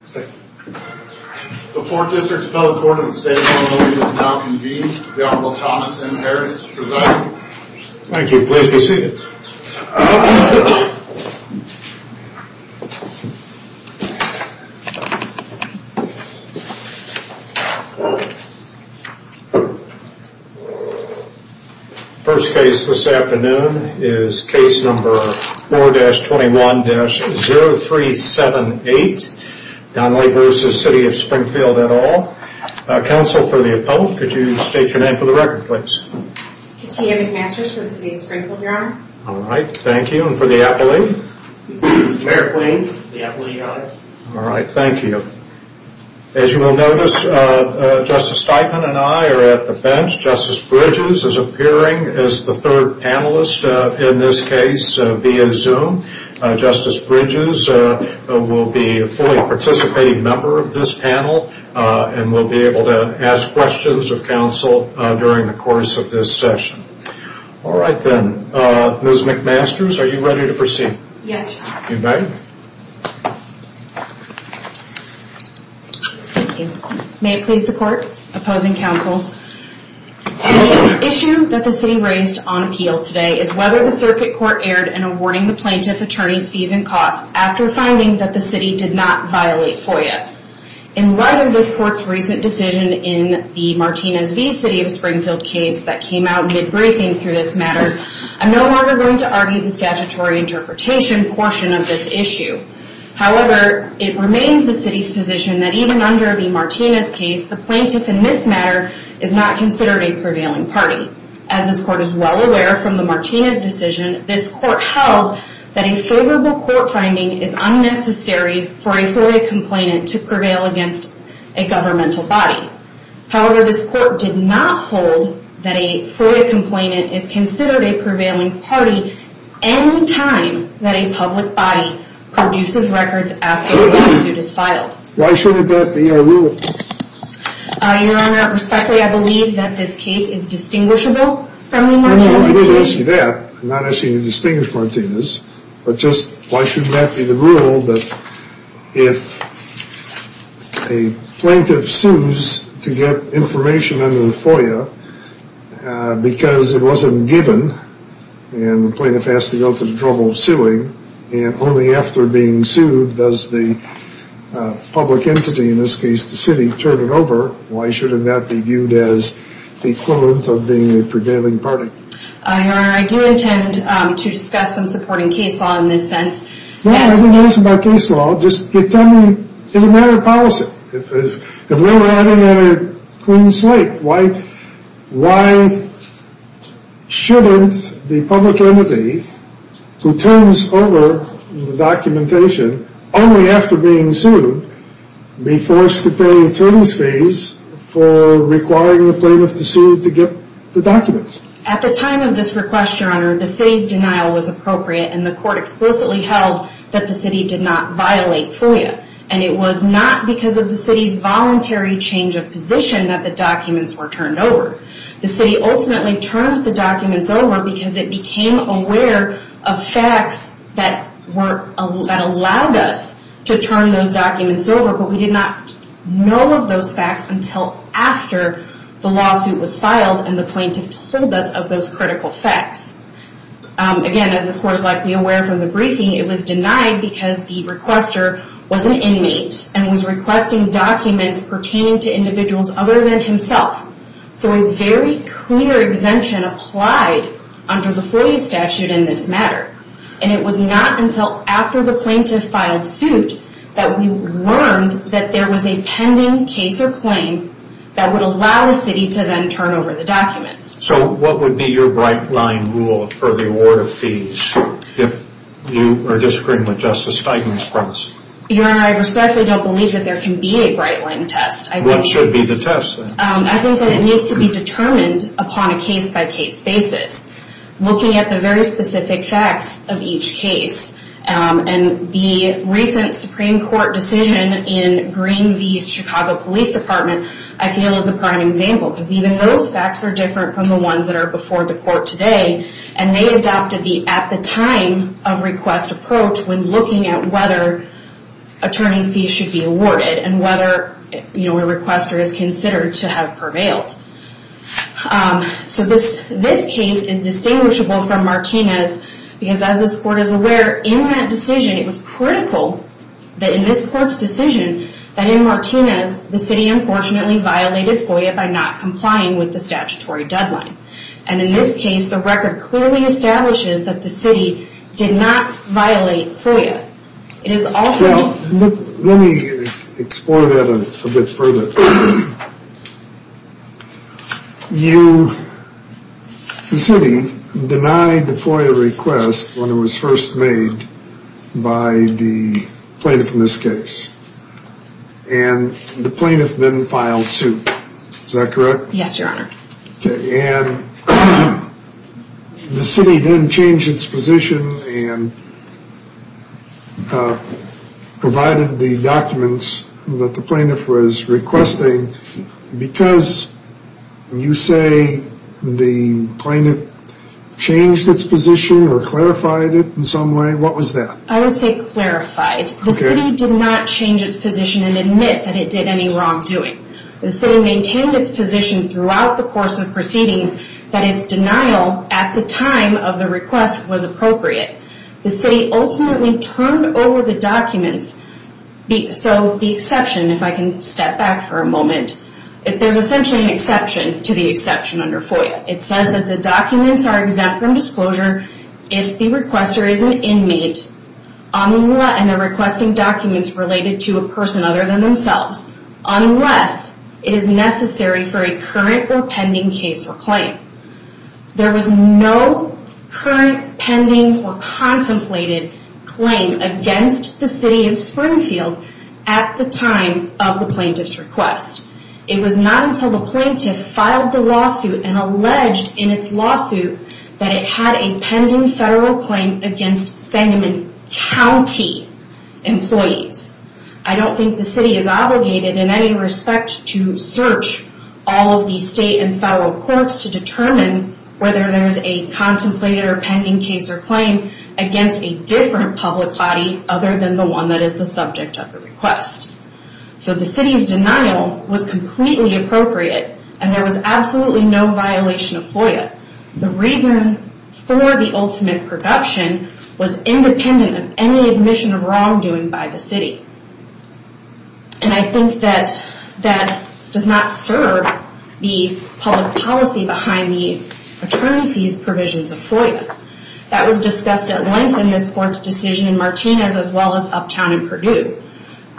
The 4th District Appellate Court in the State of Illinois is now convened. The Honorable Thomas M. Harris to present. Thank you. Please be seated. The first case this afternoon is case number 4-21-0378, Donley v. City of Springfield et al. Counsel for the appellate, could you state your name for the record please? Katia McMasters for the City of Springfield, Your Honor. Alright, thank you. And for the appellate? Merrick Lane for the appellate, Your Honor. Alright, thank you. As you will notice, Justice Steinman and I are at the bench. Justice Bridges is appearing as the third panelist in this case via Zoom. Justice Bridges will be a fully participating member of this panel and will be able to ask questions of counsel during the course of this session. Alright then, Ms. McMasters, are you ready to proceed? Yes, Your Honor. You may. Thank you. May it please the Court? Opposing counsel? The issue that the city raised on appeal today is whether the circuit court erred in awarding the plaintiff attorney's fees and costs after finding that the city did not violate FOIA. In light of this court's recent decision in the Martinez v. City of Springfield case that came out mid-briefing through this matter, I'm no longer going to argue the statutory interpretation portion of this issue. However, it remains the city's position that even under the Martinez case, the plaintiff in this matter is not considered a prevailing party. As this court is well aware from the Martinez decision, this court held that a favorable court finding is unnecessary for a FOIA complainant to prevail against a governmental body. However, this court did not hold that a FOIA complainant is considered a prevailing party any time that a public body produces records after a lawsuit is filed. Why should that be our rule? Your Honor, respectfully, I believe that this case is distinguishable from the Martinez case. I'm not asking you to distinguish Martinez, but just why should that be the rule that if a plaintiff sues to get information under the FOIA because it wasn't given and the plaintiff has to go to the trouble of suing and only after being sued does the public entity, in this case the city, turn it over. Why shouldn't that be viewed as the equivalent of being a prevailing party? Your Honor, I do intend to discuss some supporting case law in this sense. No, I have no question about case law. Just tell me, it's a matter of policy. If we were having a clean slate, why shouldn't the public entity who turns over the documentation only after being sued be forced to pay attorney's fees for requiring the plaintiff to sue to get the documents? At the time of this request, Your Honor, the city's denial was appropriate and the court explicitly held that the city did not violate FOIA. It was not because of the city's voluntary change of position that the documents were turned over. The city ultimately turned the documents over because it became aware of facts that allowed us to turn those documents over, but we did not know of those facts until after the lawsuit was filed and the plaintiff told us of those critical facts. Again, as this court is likely aware from the briefing, it was denied because the requester was an inmate and was requesting documents pertaining to individuals other than himself. So a very clear exemption applied under the FOIA statute in this matter. And it was not until after the plaintiff filed suit that we learned that there was a pending case or claim that would allow the city to then turn over the documents. So what would be your bright line rule for the award of fees if you were disagreeing with Justice Steigman's premise? Your Honor, I respectfully don't believe that there can be a bright line test. What should be the test then? I think that it needs to be determined upon a case-by-case basis, looking at the very specific facts of each case. And the recent Supreme Court decision in Green v. Chicago Police Department I feel is a prime example because even those facts are different from the ones that are before the court today. And they adopted the at-the-time-of-request approach when looking at whether attorney fees should be awarded and whether a requester is considered to have prevailed. So this case is distinguishable from Martinez because, as this court is aware, in that decision it was critical that in this court's decision that in Martinez the city unfortunately violated FOIA by not complying with the statutory deadline. And in this case the record clearly establishes that the city did not violate FOIA. Let me explore that a bit further. The city denied the FOIA request when it was first made by the plaintiff in this case. And the plaintiff then filed suit. Is that correct? Yes, Your Honor. And the city then changed its position and provided the documents that the plaintiff was requesting. Because you say the plaintiff changed its position or clarified it in some way, what was that? I would say clarified. The city did not change its position and admit that it did any wrongdoing. The city maintained its position throughout the course of proceedings that its denial at the time of the request was appropriate. The city ultimately turned over the documents. So the exception, if I can step back for a moment, there's essentially an exception to the exception under FOIA. It says that the documents are exempt from disclosure if the requester is an inmate unless it is necessary for a current or pending case or claim. There was no current, pending, or contemplated claim against the City of Springfield at the time of the plaintiff's request. It was not until the plaintiff filed the lawsuit and alleged in its lawsuit that it had a pending federal claim against Sangamon County employees. I don't think the city is obligated in any respect to search all of the state and federal courts to determine whether there's a contemplated or pending case or claim against a different public body other than the one that is the subject of the request. So the city's denial was completely appropriate and there was absolutely no violation of FOIA. The reason for the ultimate production was independent of any admission of wrongdoing by the city. And I think that that does not serve the public policy behind the attorney fees provisions of FOIA. That was discussed at length in this court's decision in Martinez as well as uptown in Purdue.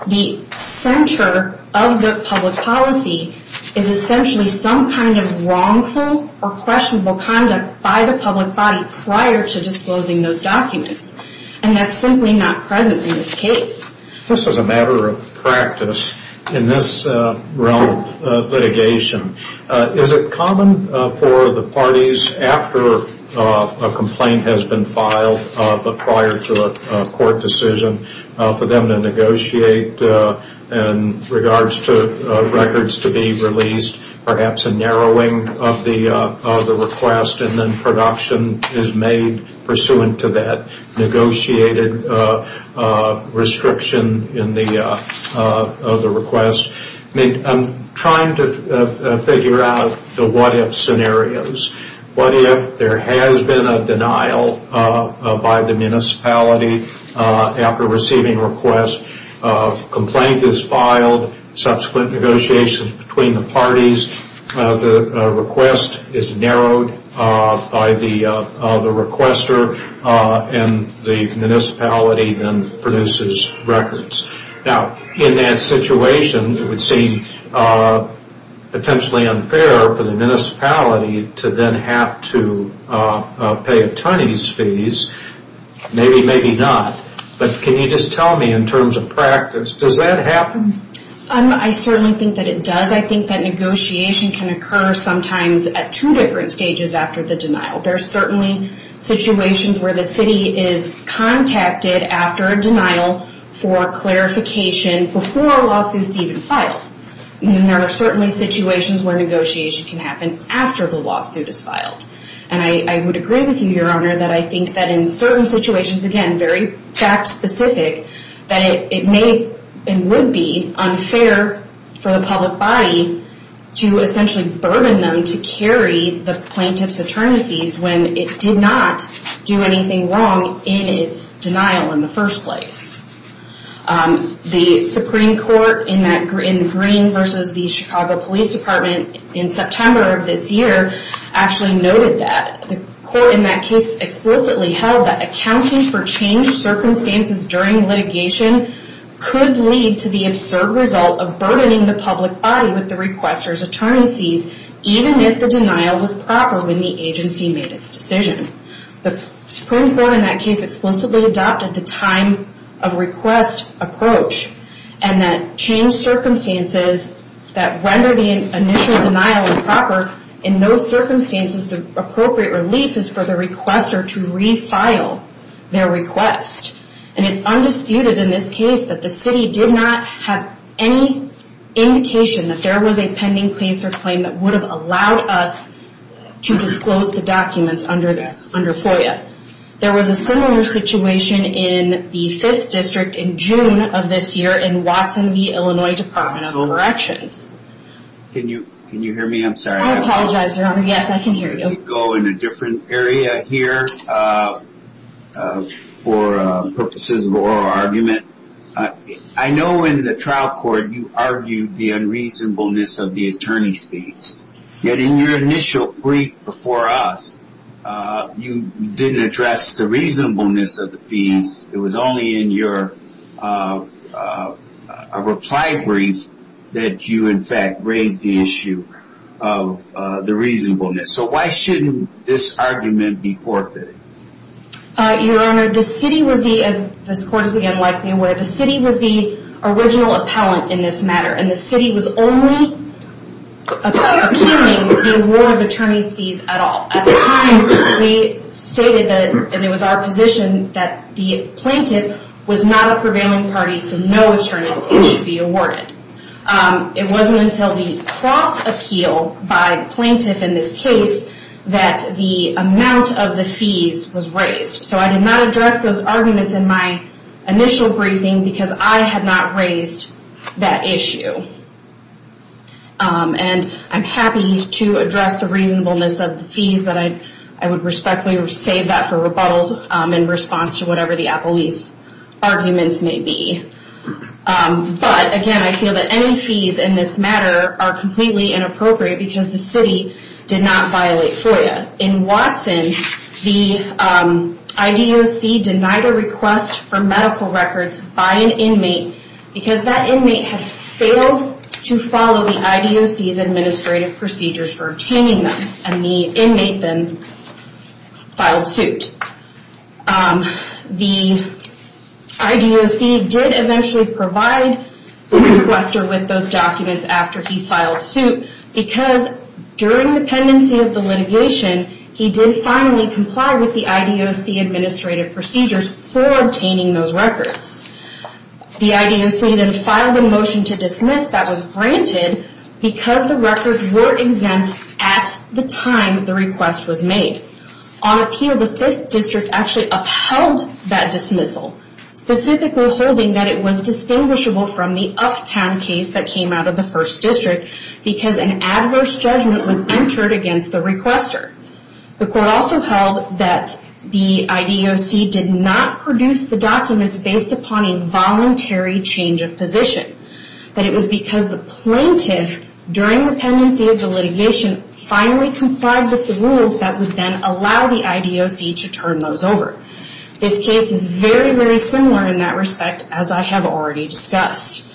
The center of the public policy is essentially some kind of wrongful or questionable conduct by the public body prior to disclosing those documents. And that's simply not present in this case. This is a matter of practice in this realm of litigation. Is it common for the parties after a complaint has been filed but prior to a court decision, for them to negotiate in regards to records to be released, perhaps a narrowing of the request and then production is made pursuant to that negotiated restriction of the request? I'm trying to figure out the what if scenarios. What if there has been a denial by the municipality after receiving a request, a complaint is filed, subsequent negotiations between the parties, the request is narrowed by the requester and the municipality then produces records. Now, in that situation, it would seem potentially unfair for the municipality to then have to pay attorney's fees. Maybe, maybe not. But can you just tell me in terms of practice, does that happen? I certainly think that it does. I think that negotiation can occur sometimes at two different stages after the denial. There's certainly situations where the city is contacted after a denial for clarification before a lawsuit is even filed. And there are certainly situations where negotiation can happen after the lawsuit is filed. And I would agree with you, Your Honor, that I think that in certain situations, again, very fact specific, that it may and would be unfair for the public body to essentially burden them and to carry the plaintiff's attorney fees when it did not do anything wrong in its denial in the first place. The Supreme Court in the Green versus the Chicago Police Department in September of this year actually noted that. The court in that case explicitly held that accounting for changed circumstances during litigation could lead to the absurd result of burdening the public body with the requester's attorney fees, even if the denial was proper when the agency made its decision. The Supreme Court in that case explicitly adopted the time of request approach and that changed circumstances that rendered the initial denial improper. In those circumstances, the appropriate relief is for the requester to refile their request. And it's undisputed in this case that the city did not have any indication that there was a pending case or claim that would have allowed us to disclose the documents under FOIA. There was a similar situation in the Fifth District in June of this year in Watson v. Illinois Department of Corrections. Can you hear me? I'm sorry. I apologize, Your Honor. Yes, I can hear you. Let me go in a different area here for purposes of oral argument. I know in the trial court you argued the unreasonableness of the attorney's fees. Yet in your initial brief before us, you didn't address the reasonableness of the fees. It was only in your reply brief that you, in fact, raised the issue of the reasonableness. So why shouldn't this argument be forfeited? Your Honor, the city was the, as the court is again likely aware, the city was the original appellant in this matter. And the city was only appealing the award of attorney's fees at all. At the time, we stated that, and it was our position, that the plaintiff was not a prevailing party, so no attorneys should be awarded. It wasn't until the cross-appeal by the plaintiff in this case that the amount of the fees was raised. So I did not address those arguments in my initial briefing because I had not raised that issue. And I'm happy to address the reasonableness of the fees, but I would respectfully save that for rebuttal in response to whatever the appellee's arguments may be. But again, I feel that any fees in this matter are completely inappropriate because the city did not violate FOIA. In Watson, the IDOC denied a request for medical records by an inmate because that inmate had failed to follow the IDOC's administrative procedures for obtaining them, and the inmate then filed suit. The IDOC did eventually provide Wester with those documents after he filed suit because during the pendency of the litigation, he did finally comply with the IDOC administrative procedures for obtaining those records. The IDOC then filed a motion to dismiss that was granted because the records were exempt at the time the request was made. On appeal, the 5th District actually upheld that dismissal, specifically holding that it was distinguishable from the Uptown case that came out of the 1st District because an adverse judgment was entered against the requester. The court also held that the IDOC did not produce the documents based upon a voluntary change of position, that it was because the plaintiff, during the pendency of the litigation, finally complied with the rules that would then allow the IDOC to turn those over. This case is very, very similar in that respect, as I have already discussed.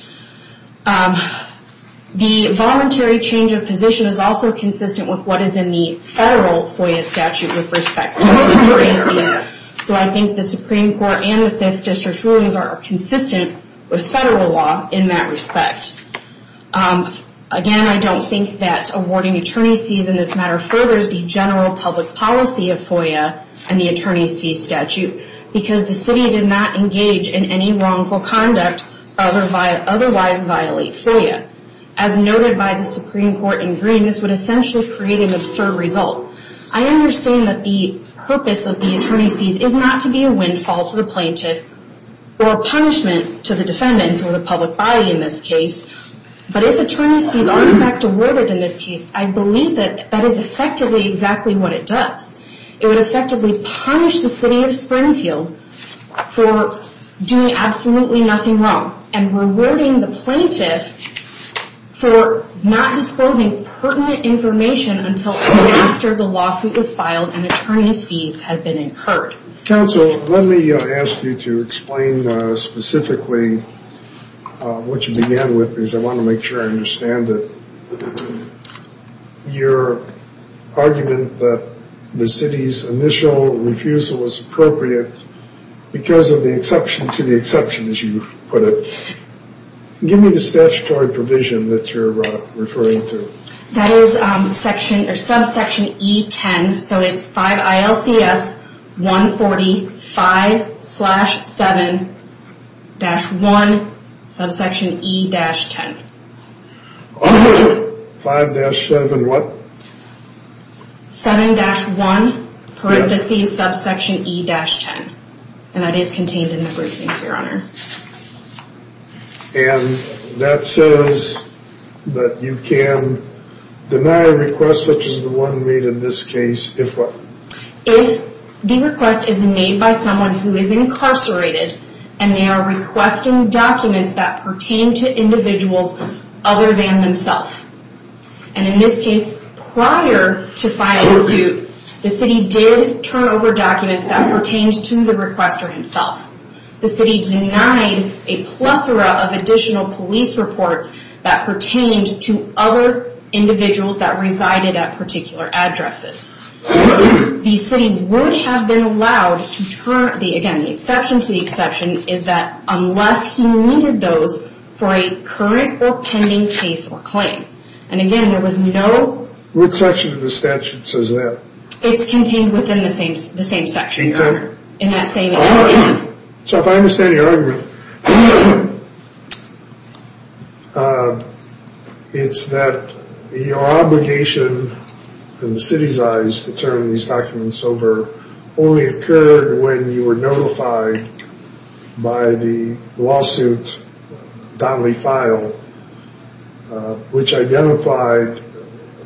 The voluntary change of position is also consistent with what is in the federal FOIA statute with respect to attorneys fees, so I think the Supreme Court and the 5th District rulings are consistent with federal law in that respect. Again, I don't think that awarding attorneys fees in this matter furthers the general public policy of FOIA and the attorneys fees statute because the city did not engage in any wrongful conduct, otherwise violate FOIA. As noted by the Supreme Court in green, this would essentially create an absurd result. I understand that the purpose of the attorneys fees is not to be a windfall to the plaintiff or a punishment to the defendants or the public body in this case, but if attorneys fees are in fact awarded in this case, I believe that that is effectively exactly what it does. It would effectively punish the city of Springfield for doing absolutely nothing wrong and rewarding the plaintiff for not disclosing pertinent information until after the lawsuit was filed and attorneys fees had been incurred. Counsel, let me ask you to explain specifically what you began with, because I want to make sure I understand it. Your argument that the city's initial refusal was appropriate because of the exception to the exception, as you put it. Give me the statutory provision that you're referring to. That is section or subsection E10. So it's 5 ILCS 140 5 slash 7 dash 1 subsection E dash 10. 5 dash 7 what? 7 dash 1 parenthesis subsection E dash 10. And that is contained in the briefings, your honor. And that says that you can deny a request such as the one made in this case if what? If the request is made by someone who is incarcerated and they are requesting documents that pertain to individuals other than themselves. And in this case, prior to filing the suit, the city did turn over documents that pertained to the requester himself. The city denied a plethora of additional police reports that pertained to other individuals that resided at particular addresses. The city would have been allowed to turn, again the exception to the exception, is that unless he needed those for a current or pending case or claim. And again, there was no... What section of the statute says that? It's contained within the same section, your honor. So if I understand your argument, it's that your obligation in the city's eyes to turn these documents over only occurred when you were notified by the lawsuit Donnelly filed, which identified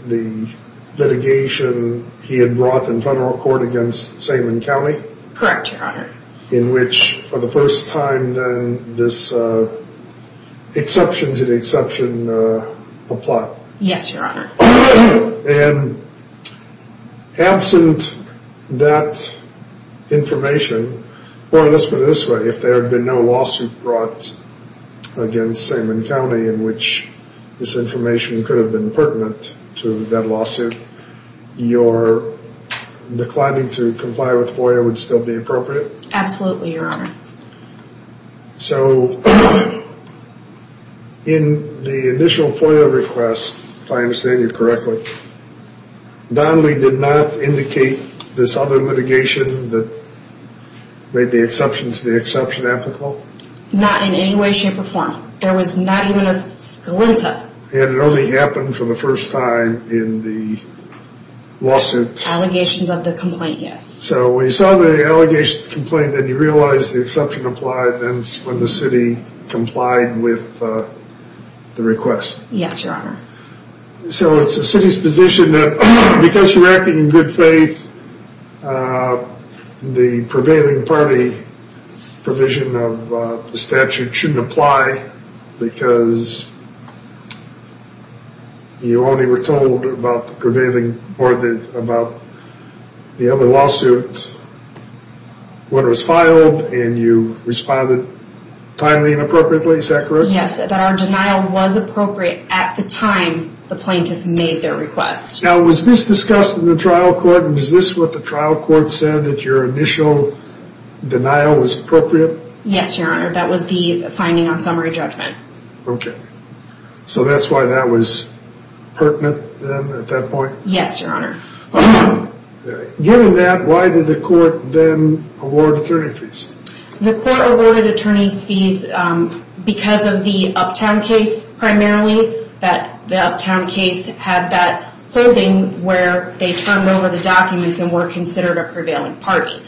the litigation he had brought in federal court against Seidman County? Correct, your honor. In which, for the first time then, this exception to the exception applied? Yes, your honor. And absent that information, or let's put it this way, if there had been no lawsuit brought against Seidman County in which this information could have been pertinent to that lawsuit, do you think your declining to comply with FOIA would still be appropriate? Absolutely, your honor. So in the initial FOIA request, if I understand you correctly, Donnelly did not indicate this other litigation that made the exception to the exception applicable? Not in any way, shape, or form. There was not even a... And it only happened for the first time in the lawsuit. Allegations of the complaint, yes. So when you saw the allegations of the complaint and you realized the exception applied, then the city complied with the request? Yes, your honor. So it's the city's position that because you're acting in good faith, the prevailing party provision of the statute shouldn't apply because you only were told about the prevailing parties about the other lawsuits when it was filed and you responded timely and appropriately, is that correct? Yes, that our denial was appropriate at the time the plaintiff made their request. Now was this discussed in the trial court? And was this what the trial court said, that your initial denial was appropriate? Yes, your honor. That was the finding on summary judgment. Okay. So that's why that was pertinent then at that point? Yes, your honor. Given that, why did the court then award attorney fees? The court awarded attorney's fees because of the Uptown case primarily. The Uptown case had that holding where they turned over the documents and were considered a prevailing party.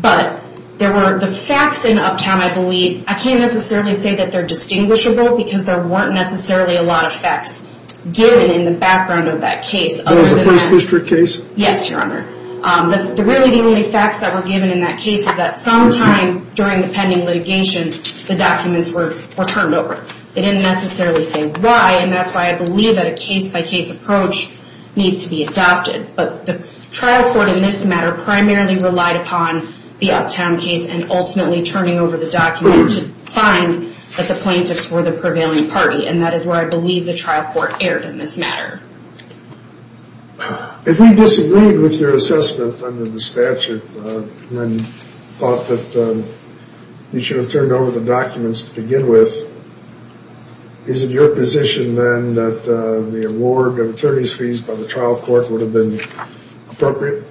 But there were the facts in Uptown, I believe. I can't necessarily say that they're distinguishable because there weren't necessarily a lot of facts given in the background of that case. That was a police district case? Yes, your honor. Really the only facts that were given in that case was that sometime during the pending litigation, the documents were turned over. They didn't necessarily say why, and that's why I believe that a case-by-case approach needs to be adopted. But the trial court in this matter primarily relied upon the Uptown case and ultimately turning over the documents to find that the plaintiffs were the prevailing party, and that is where I believe the trial court erred in this matter. If we disagreed with your assessment under the statute and thought that you should have turned over the documents to begin with, is it your position then that the award of attorney's fees by the trial court would have been appropriate?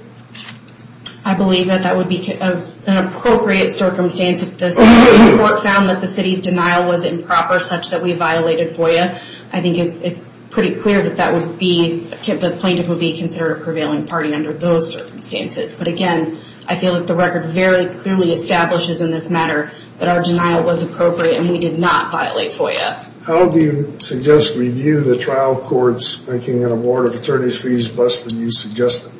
I believe that that would be an appropriate circumstance if the city court found that the city's denial was improper such that we violated FOIA. I think it's pretty clear that the plaintiff would be considered a prevailing party under those circumstances. But again, I feel that the record very clearly establishes in this matter that our denial was appropriate and we did not violate FOIA. How do you suggest we view the trial court's making an award of attorney's fees less than you suggested?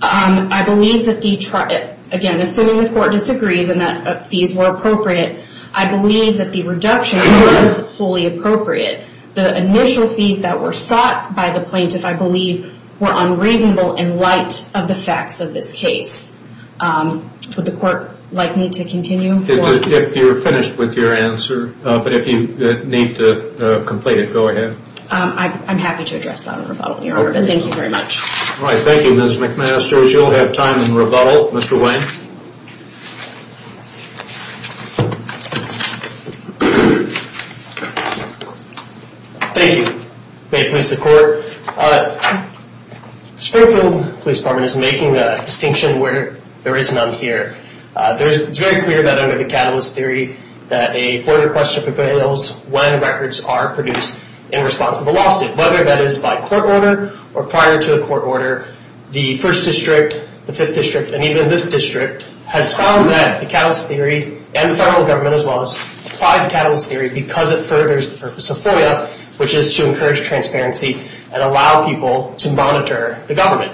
I believe that the trial... Again, assuming the court disagrees and that fees were appropriate, I believe that the reduction was wholly appropriate. The initial fees that were sought by the plaintiff, I believe, were unreasonable in light of the facts of this case. Would the court like me to continue? If you're finished with your answer, but if you need to complete it, go ahead. I'm happy to address that in rebuttal, Your Honor. Thank you very much. All right. Thank you, Ms. McMaster. You'll have time in rebuttal, Mr. Wayne. Thank you. May it please the court. Springfield Police Department is making a distinction where there is none here. It's very clear that under the Catalyst Theory, that a FOIA request prevails when records are produced in response to the lawsuit. Whether that is by court order or prior to a court order, the 1st District, the 5th District, and even this District has found that the Catalyst Theory, and the federal government as well, has applied the Catalyst Theory because it furthers the purpose of FOIA, which is to encourage transparency and allow people to monitor the government.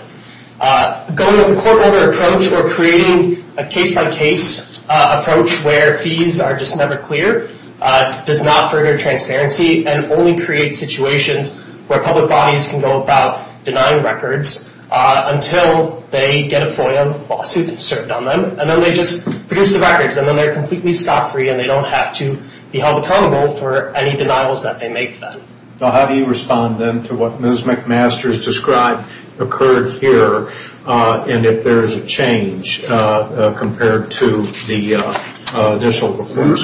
Going with a court order approach or creating a case-by-case approach where fees are just never clear does not further transparency and only creates situations where public bodies can go about denying records until they get a FOIA lawsuit served on them, and then they just produce the records, and then they're completely stock-free and they don't have to be held accountable for any denials that they make then. How do you respond then to what Ms. McMaster has described occurred here, and if there is a change compared to the initial report?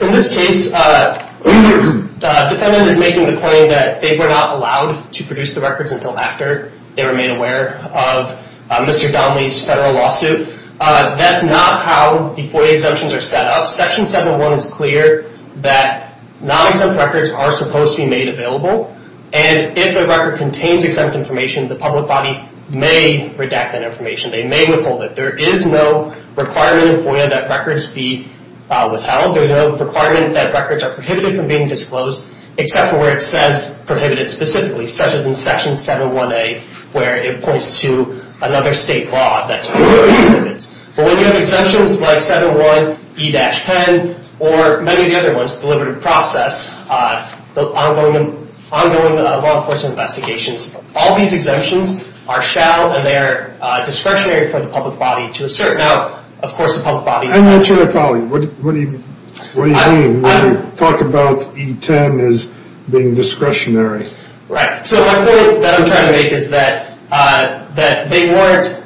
In this case, the defendant is making the claim that they were not allowed to produce the records until after they were made aware of Mr. Donnelly's federal lawsuit. That's not how the FOIA exemptions are set up. Section 7.1 is clear that non-exempt records are supposed to be made available, and if the record contains exempt information, the public body may redact that information. They may withhold it. There is no requirement in FOIA that records be withheld. There's no requirement that records are prohibited from being disclosed, except for where it says prohibited specifically, such as in Section 7.1a, where it points to another state law that specifically prohibits. But when you have exemptions like 7.1e-10, or many of the other ones, the deliberative process, the ongoing law enforcement investigations, all these exemptions are shall and they are discretionary for the public body to assert. Now, of course, the public body— I'm not sure I follow you. What do you mean when you talk about e-10 as being discretionary? Right. So my point that I'm trying to make is that they weren't—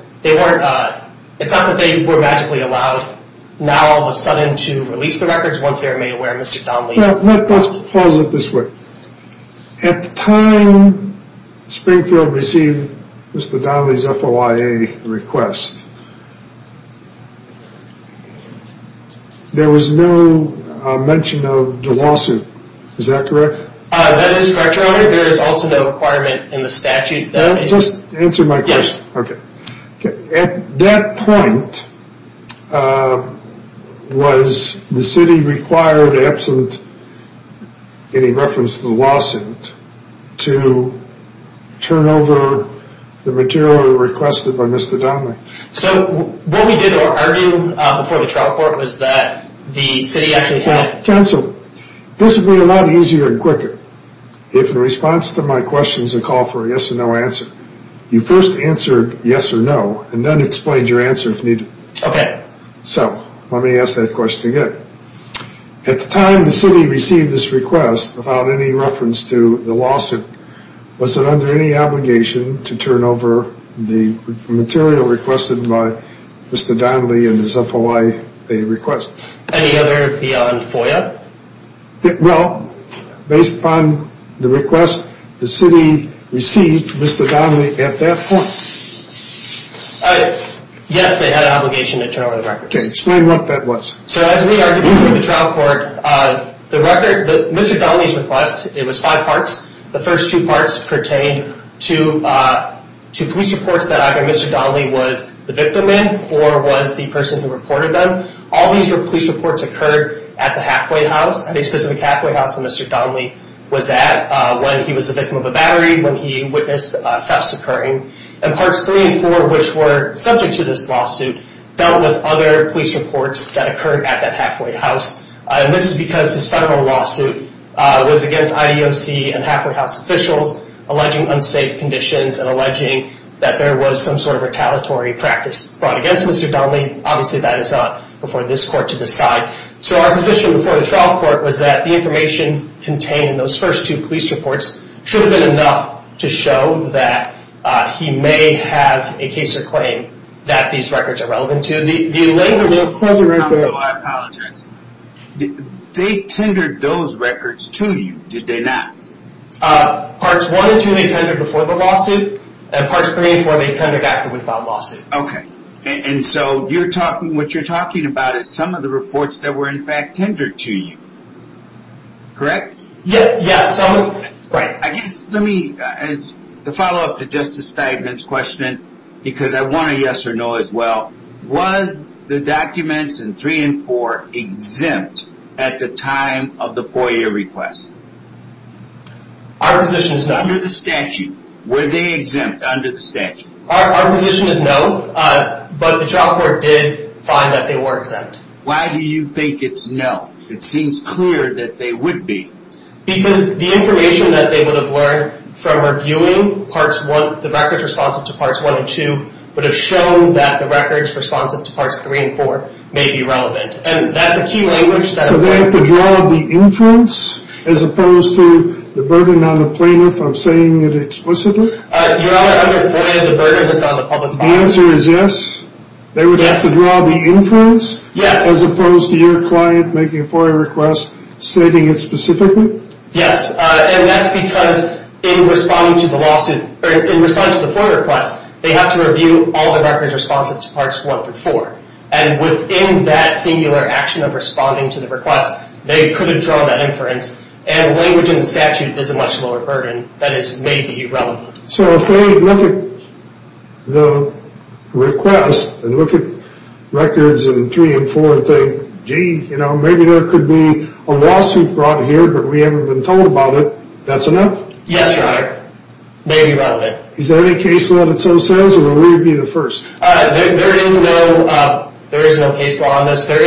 it's not that they were magically allowed now all of a sudden to release the records once they were made aware of Mr. Donnelly's request. Let's pause it this way. At the time Springfield received Mr. Donnelly's FOIA request, there was no mention of the lawsuit. Is that correct? That is correct, Your Honor. There is also no requirement in the statute. Just answer my question. Yes. Okay. At that point, was the city required, absent any reference to the lawsuit, to turn over the material requested by Mr. Donnelly? So what we did argue before the trial court was that the city actually had— Counsel, this would be a lot easier and quicker if in response to my questions, a call for a yes or no answer. You first answered yes or no, and then explained your answer if needed. Okay. So let me ask that question again. At the time the city received this request, without any reference to the lawsuit, was it under any obligation to turn over the material requested by Mr. Donnelly in his FOIA request? Any other beyond FOIA? Well, based upon the request, the city received Mr. Donnelly at that point. Yes, they had an obligation to turn over the records. Okay. Explain what that was. So as we argued before the trial court, Mr. Donnelly's request, it was five parts. The first two parts pertained to police reports that either Mr. Donnelly was the victim in or was the person who reported them. All these police reports occurred at the halfway house, at a specific halfway house that Mr. Donnelly was at when he was the victim of a battery, when he witnessed thefts occurring. And parts three and four, which were subject to this lawsuit, dealt with other police reports that occurred at that halfway house. And this is because this federal lawsuit was against IDOC and halfway house officials, alleging unsafe conditions and alleging that there was some sort of retaliatory practice brought against Mr. Donnelly. Obviously, that is not before this court to decide. So our position before the trial court was that the information contained in those first two police reports should have been enough to show that he may have a case or claim that these records are relevant to. The allegation- Hold it right there. I apologize. They tendered those records to you, did they not? Parts one and two, they tendered before the lawsuit. And parts three and four, they tendered after we filed the lawsuit. Okay. And so you're talking, what you're talking about is some of the reports that were in fact tendered to you. Correct? Yes. I guess, let me, as a follow-up to Justice Steinman's question, because I want a yes or no as well. Was the documents in three and four exempt at the time of the FOIA request? Under the statute, were they exempt under the statute? Our position is no, but the trial court did find that they were exempt. Why do you think it's no? It seems clear that they would be. Because the information that they would have learned from reviewing parts one, the records responsive to parts one and two, would have shown that the records responsive to parts three and four may be relevant. And that's a key language that- So they have to draw the inference as opposed to the burden on the plaintiff of saying it explicitly? Your Honor, under FOIA, the burden is on the public's part. The answer is yes? Yes. They would have to draw the inference? Yes. As opposed to your client making a FOIA request stating it specifically? Yes. And that's because in responding to the FOIA request, they have to review all the records responsive to parts one through four. And within that singular action of responding to the request, they could have drawn that inference. And language in the statute is a much lower burden that is maybe relevant. So if they look at the request and look at records in three and four and think, gee, you know, maybe there could be a lawsuit brought here, but we haven't been told about it, that's enough? Yes, Your Honor. Maybe relevant. Is there any case law that so says, or will we be the first? There is no case law on this. What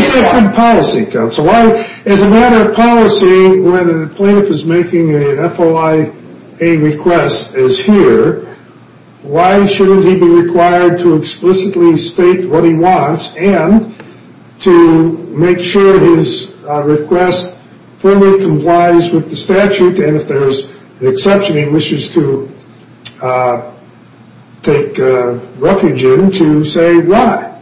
is the policy, counsel? As a matter of policy, when a plaintiff is making an FOIA request as here, why shouldn't he be required to explicitly state what he wants and to make sure his request fully complies with the statute? And if there's an exception, he wishes to take refuge in to say why?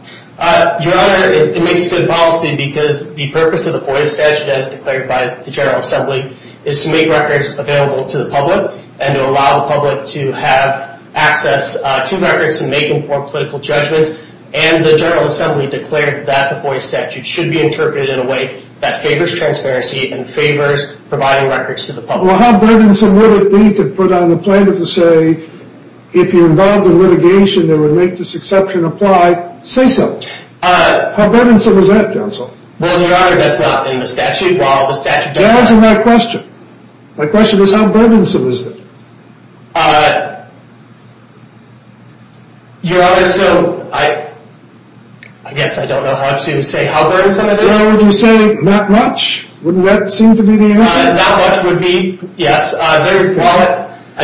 Your Honor, it makes good policy, because the purpose of the FOIA statute as declared by the General Assembly is to make records available to the public and to allow the public to have access to records and make informed political judgments. And the General Assembly declared that the FOIA statute should be interpreted in a way that favors transparency and favors providing records to the public. Well, how burdensome would it be to put on the plaintiff to say, if you're involved in litigation that would make this exception apply, say so? How burdensome is that, counsel? Well, Your Honor, that's not in the statute. Well, the statute doesn't… Answer my question. My question is, how burdensome is it? Your Honor, so I guess I don't know how to say how burdensome it is. Your Honor, would you say not much? Wouldn't that seem to be the answer? Not much would be, yes. I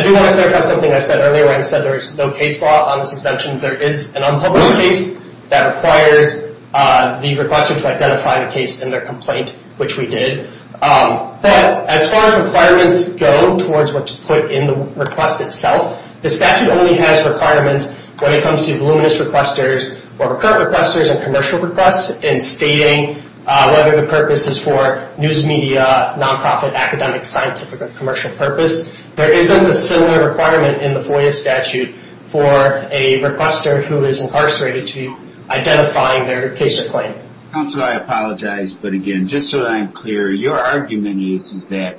do want to clarify something I said earlier. I said there is no case law on this exemption. There is an unpublished case that requires the requester to identify the case in their complaint, which we did. But as far as requirements go towards what's put in the request itself, the statute only has requirements when it comes to voluminous requesters or recurrent requesters and commercial requests in stating whether the purpose is for news media, nonprofit, academic, scientific, or commercial purpose. There isn't a similar requirement in the FOIA statute for a requester who is incarcerated to be identifying their case or claim. Counsel, I apologize, but again, just so that I'm clear, your argument is that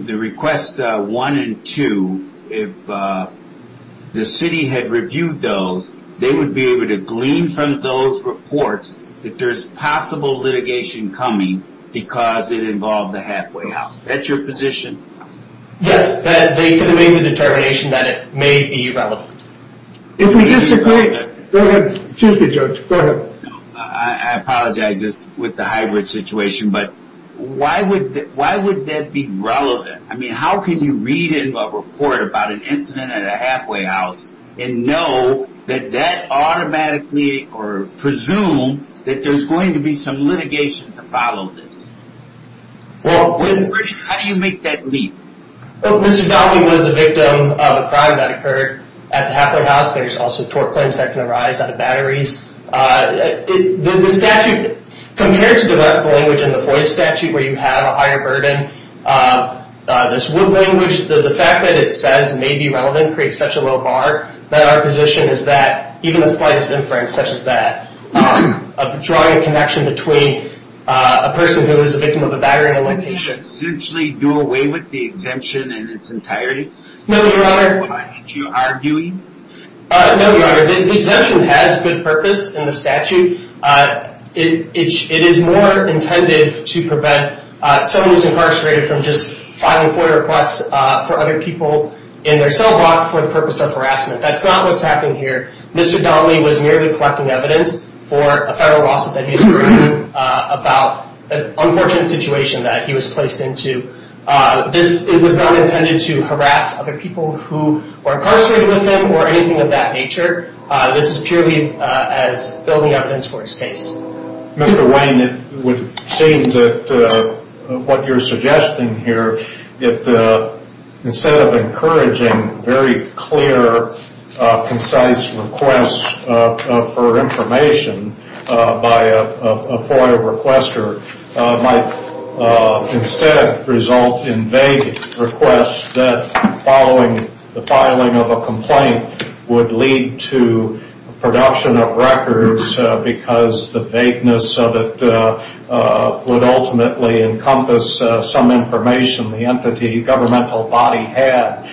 the request 1 and 2, if the city had reviewed those, they would be able to glean from those reports that there's possible litigation coming because it involved the halfway house. That's your position? Yes, that they could have made the determination that it may be relevant. If we disagree, go ahead. Excuse me, Judge. Go ahead. I apologize. This is with the hybrid situation, but why would that be relevant? I mean, how can you read in a report about an incident at a halfway house and know that that automatically or presume that there's going to be some litigation to follow this? How do you make that leap? Well, Mr. Donnelly was a victim of a crime that occurred at the halfway house. There's also tort claims that can arise out of batteries. The statute, compared to the rest of the language in the FOIA statute where you have a higher burden, this wood language, the fact that it says may be relevant creates such a low bar that our position is that even the slightest inference such as that of drawing a connection between a person who is a victim of a battery and a litigation. So you essentially do away with the exemption in its entirety? No, Your Honor. Why? Did you argue him? No, Your Honor. The exemption has good purpose in the statute. It is more intended to prevent someone who's incarcerated from just filing FOIA requests for other people in their cell block for the purpose of harassment. That's not what's happening here. Mr. Donnelly was merely collecting evidence for a federal lawsuit that he was bringing about an unfortunate situation that he was placed into. It was not intended to harass other people who were incarcerated with him or anything of that nature. This is purely as building evidence for his case. Mr. Wayne, it would seem that what you're suggesting here, instead of encouraging very clear, concise requests for information by a FOIA requester, might instead result in vague requests that following the filing of a complaint would lead to production of records because the vagueness of it would ultimately encompass some information the entity, governmental body had,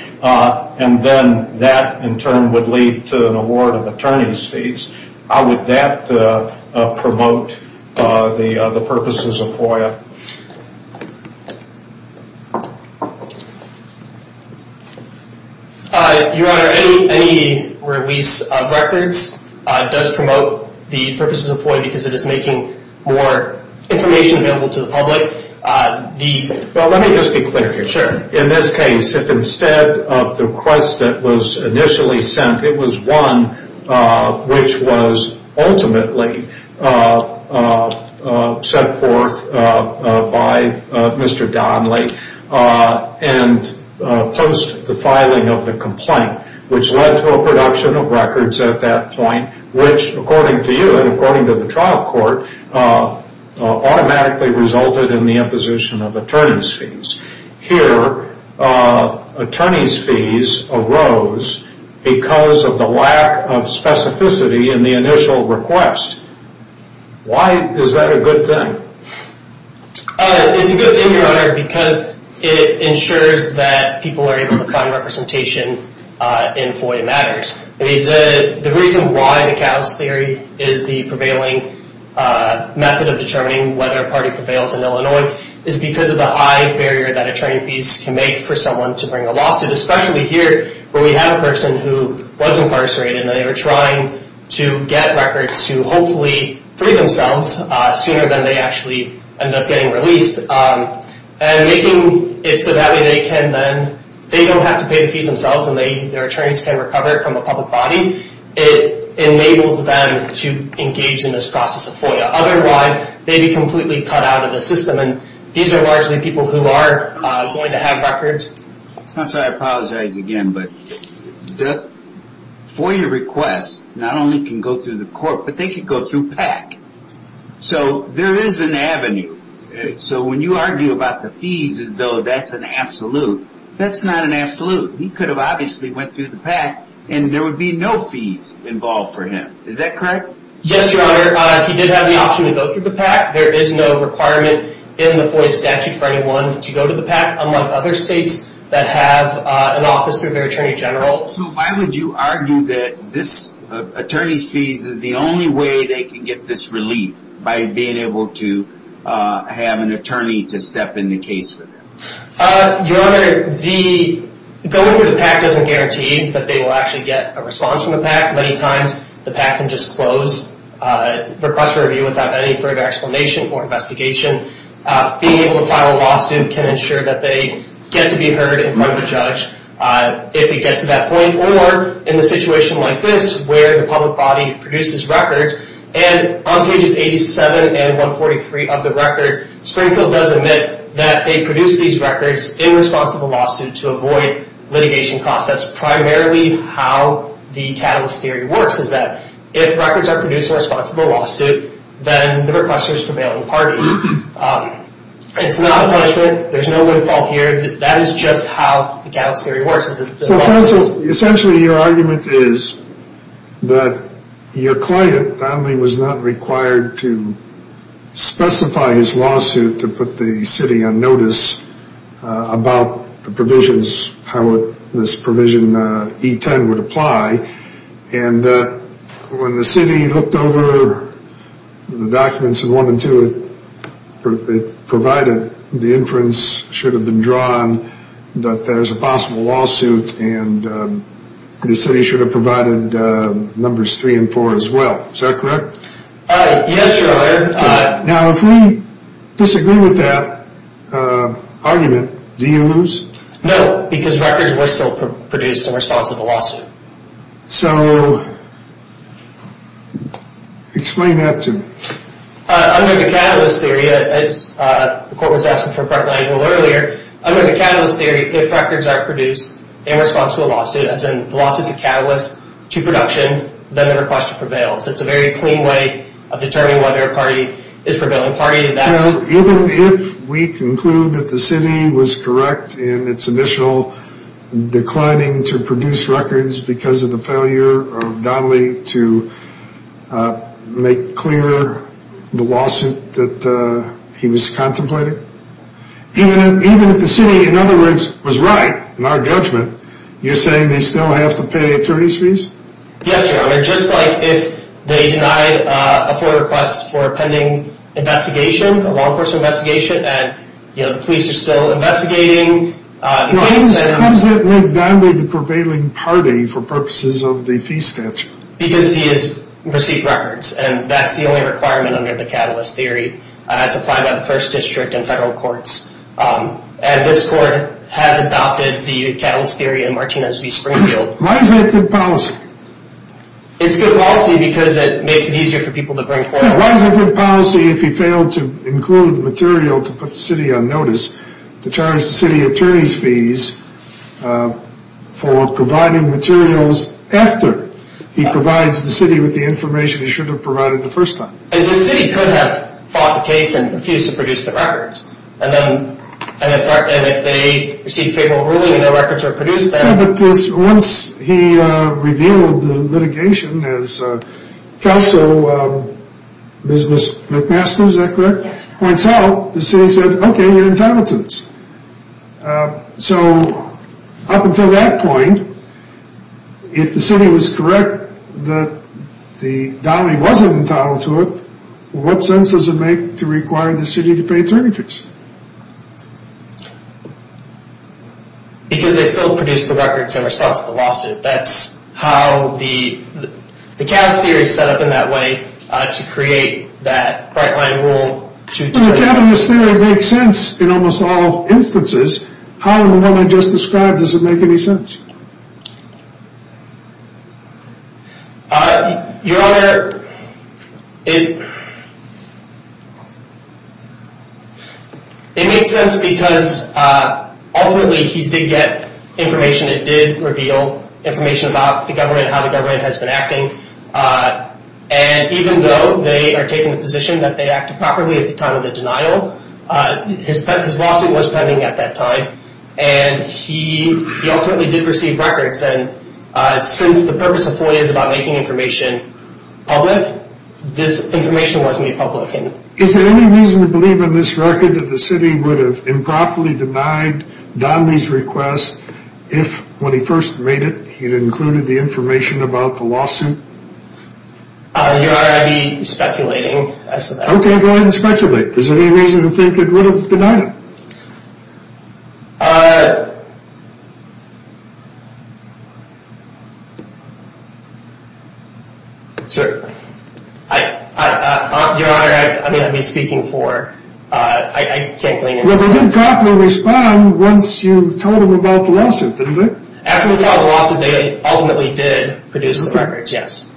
and then that in turn would lead to an award of attorney's fees. How would that promote the purposes of FOIA? Your Honor, any release of records does promote the purposes of FOIA because it is making more information available to the public. Let me just be clear here. Sure. In this case, if instead of the request that was initially sent, it was one which was ultimately sent forth by Mr. Donnelly, and post the filing of the complaint, which led to a production of records at that point, which, according to you and according to the trial court, automatically resulted in the imposition of attorney's fees. Here, attorney's fees arose because of the lack of specificity in the initial request. Why is that a good thing? It's a good thing, Your Honor, because it ensures that people are able to find representation in FOIA matters. The reason why the chaos theory is the prevailing method of determining whether a party prevails in Illinois is because of the high barrier that attorney's fees can make for someone to bring a lawsuit, especially here where we have a person who was incarcerated and they were trying to get records to hopefully free themselves sooner than they actually end up getting released, and making it so that way they don't have to pay the fees themselves and their attorneys can recover it from the public body. It enables them to engage in this process of FOIA. Otherwise, they'd be completely cut out of the system, and these are largely people who are going to have records. I'm sorry, I apologize again, but FOIA requests not only can go through the court, but they can go through PAC. So there is an avenue. So when you argue about the fees as though that's an absolute, that's not an absolute. He could have obviously went through the PAC, and there would be no fees involved for him. Is that correct? Yes, Your Honor. He did have the option to go through the PAC. There is no requirement in the FOIA statute for anyone to go to the PAC, unlike other states that have an office through their attorney general. So why would you argue that this attorney's fees is the only way they can get this relief by being able to have an attorney to step in the case for them? Your Honor, going through the PAC doesn't guarantee that they will actually get a response from the PAC. Many times, the PAC can just close, request for review without any further explanation or investigation. Being able to file a lawsuit can ensure that they get to be heard in front of a judge if it gets to that point, or in a situation like this where the public body produces records. And on pages 87 and 143 of the record, Springfield does admit that they produce these records in response to the lawsuit to avoid litigation costs. That's primarily how the catalyst theory works, is that if records are produced in response to the lawsuit, then the requester is prevailing party. It's not a punishment. There's no windfall here. That is just how the catalyst theory works. Essentially, your argument is that your client, Donnelly, was not required to specify his lawsuit to put the city on notice about the provisions, how this provision E10 would apply. And when the city looked over the documents in 1 and 2, it provided the inference should have been drawn that there's a possible lawsuit, and the city should have provided numbers 3 and 4 as well. Is that correct? Yes, Your Honor. Now, if we disagree with that argument, do you lose? No, because records were still produced in response to the lawsuit. So, explain that to me. Under the catalyst theory, as the court was asking for a front line rule earlier, under the catalyst theory, if records are produced in response to a lawsuit, as in the lawsuit's a catalyst to production, then the requester prevails. It's a very clean way of determining whether a party is a prevailing party. Even if we conclude that the city was correct in its initial declining to produce records because of the failure of Donnelly to make clear the lawsuit that he was contemplating? Even if the city, in other words, was right in our judgment, you're saying they still have to pay attorney's fees? Yes, Your Honor. Just like if they denied a full request for a pending investigation, a law enforcement investigation, and the police are still investigating the case. Why does that make Donnelly the prevailing party for purposes of the fee statute? Because he has received records. And that's the only requirement under the catalyst theory. It's applied by the first district and federal courts. And this court has adopted the catalyst theory in Martinez v. Springfield. Why is that good policy? It's good policy because it makes it easier for people to bring forward. Why is it good policy if he failed to include material to put the city on notice to charge the city attorney's fees for providing materials after he provides the city with the information he should have provided the first time? The city could have fought the case and refused to produce the records. And if they received favorable ruling, the records were produced then. But once he revealed the litigation as counsel business McMaster, is that correct? Yes. And as counsel, the city said, okay, you're entitled to this. So up until that point, if the city was correct that Donnelly wasn't entitled to it, what sense does it make to require the city to pay attorneys? Because they still produced the records in response to the lawsuit. That's how the catalyst theory is set up in that way to create that bright line rule. The catalyst theory makes sense in almost all instances. How in the one I just described does it make any sense? Your Honor, it makes sense because ultimately he did get information. It did reveal information about the government and how the government has been acting. And even though they are taking the position that they acted properly at the time of the denial, his lawsuit was pending at that time. And he ultimately did receive records. And since the purpose of FOIA is about making information public, this information was made public. Is there any reason to believe in this record that the city would have improperly denied Donnelly's request if when he first made it, he'd included the information about the lawsuit? Your Honor, I'd be speculating as to that. Okay, go ahead and speculate. Is there any reason to think it would have denied him? Certainly. Your Honor, I mean I'd be speaking for, I can't glean into that. Well, they didn't properly respond once you told them about the lawsuit, did they? After we filed the lawsuit, they ultimately did produce the records, yes.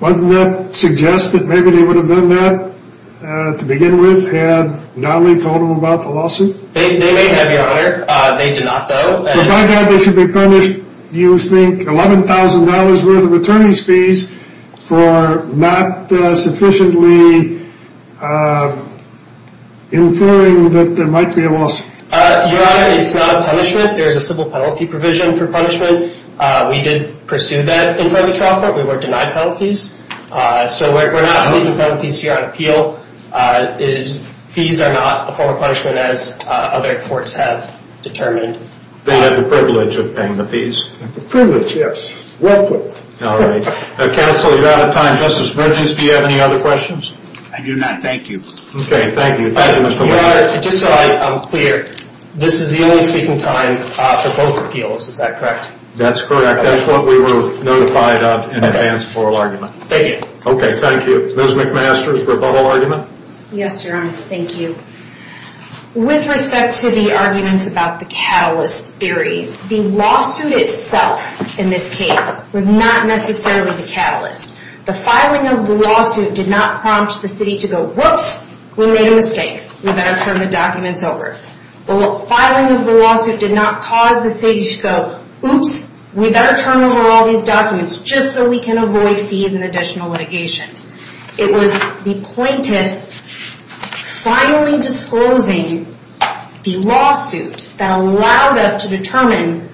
Doesn't that suggest that maybe they would have done that to begin with had Donnelly told them about the lawsuit? They may have, Your Honor. They did not, though. By that, they should be punished, you think, $11,000 worth of attorney's fees for not sufficiently inferring that there might be a lawsuit. Your Honor, it's not a punishment. There's a civil penalty provision for punishment. We did pursue that in front of the trial court. We were denied penalties. So we're not seeking penalties here on appeal. Fees are not a form of punishment as other courts have determined. They had the privilege of paying the fees. The privilege, yes. Well put. All right. Counsel, you're out of time. Justice Bridges, do you have any other questions? I do not. Thank you. Okay, thank you. Just so I'm clear, this is the only speaking time for both appeals. Is that correct? That's correct. That's what we were notified of in advance of oral argument. Thank you. Okay, thank you. Ms. McMaster's rebuttal argument? Yes, Your Honor. Thank you. With respect to the arguments about the catalyst theory, the lawsuit itself in this case was not necessarily the catalyst. The filing of the lawsuit did not prompt the city to go, Whoops, we made a mistake. We better turn the documents over. The filing of the lawsuit did not cause the city to go, Oops, we better turn over all these documents just so we can avoid fees and additional litigation. It was the plaintiffs finally disclosing the lawsuit that allowed us to determine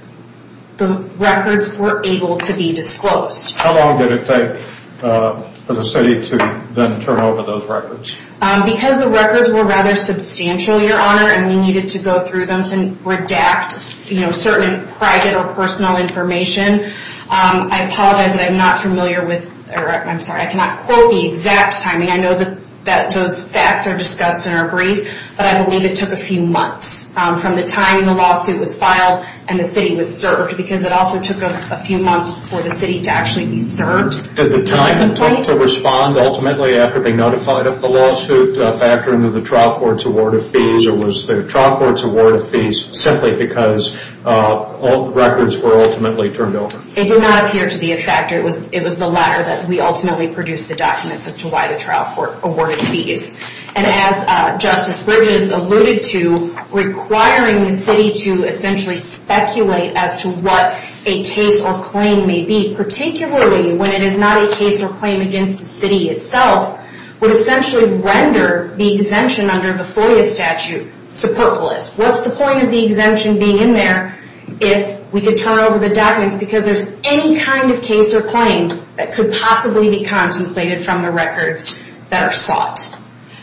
the records were able to be disclosed. How long did it take for the city to then turn over those records? Because the records were rather substantial, Your Honor, and we needed to go through them to redact certain private or personal information. I apologize that I'm not familiar with, or I'm sorry, I cannot quote the exact timing. I know that those facts are discussed in our brief, but I believe it took a few months from the time the lawsuit was filed and the city was served because it also took a few months for the city to actually be served. Did the time to respond ultimately after being notified of the lawsuit factor into the trial court's award of fees, or was the trial court's award of fees simply because records were ultimately turned over? It did not appear to be a factor. It was the latter that we ultimately produced the documents as to why the trial court awarded fees. And as Justice Bridges alluded to, requiring the city to essentially speculate as to what a case or claim may be, particularly when it is not a case or claim against the city itself, would essentially render the exemption under the FOIA statute supportless. What's the point of the exemption being in there if we could turn over the documents because there's any kind of case or claim that could possibly be contemplated from the records that are sought?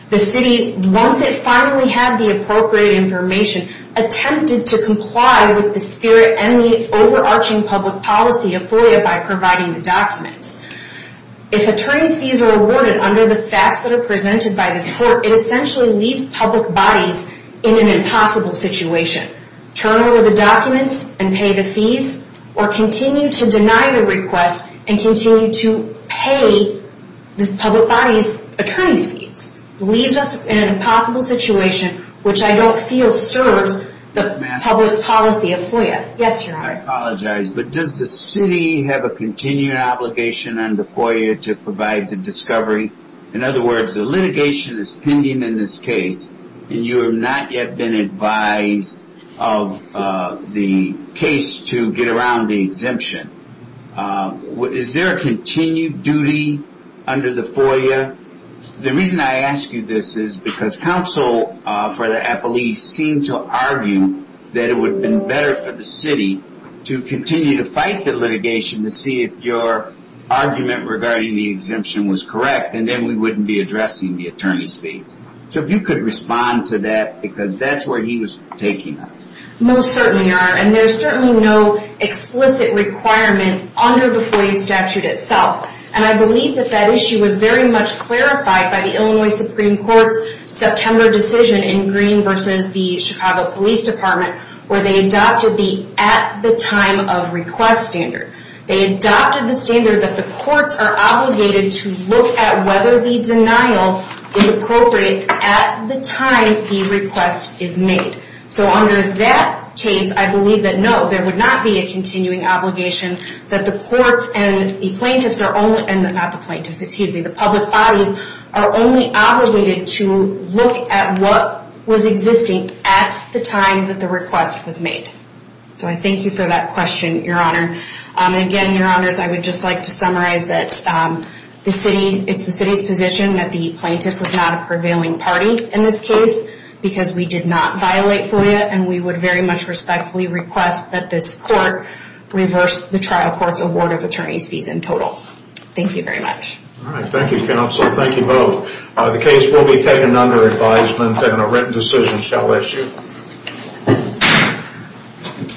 The city, once it finally had the appropriate information, attempted to comply with the spirit and the overarching public policy of FOIA by providing the documents. If attorney's fees are awarded under the facts that are presented by this court, it essentially leaves public bodies in an impossible situation. Turn over the documents and pay the fees or continue to deny the request and continue to pay the public body's attorney's fees. It leaves us in an impossible situation, which I don't feel serves the public policy of FOIA. Yes, Your Honor. I apologize, but does the city have a continued obligation under FOIA to provide the discovery? In other words, the litigation is pending in this case and you have not yet been advised of the case to get around the exemption. Is there a continued duty under the FOIA? The reason I ask you this is because counsel for the appellee seemed to continue to fight the litigation to see if your argument regarding the exemption was correct and then we wouldn't be addressing the attorney's fees. So if you could respond to that because that's where he was taking us. Most certainly, Your Honor. And there's certainly no explicit requirement under the FOIA statute itself. And I believe that that issue was very much clarified by the Illinois Supreme Court's September decision in Green versus the Chicago Police Department where they adopted the at the time of request standard. They adopted the standard that the courts are obligated to look at whether the denial is appropriate at the time the request is made. So under that case, I believe that no, there would not be a continuing obligation that the courts and the plaintiffs are only, and not the plaintiffs, excuse me, the public bodies are only obligated to look at what was existing at the time that the request was made. So I thank you for that question, Your Honor. Again, Your Honors, I would just like to summarize that the city, it's the city's position that the plaintiff was not a prevailing party in this case because we did not violate FOIA and we would very much respectfully request that this court reverse the trial court's award of attorney's fees in total. Thank you very much. All right. Thank you, counsel. Thank you both. The case will be taken under advisement and a written decision shall issue. Thank you.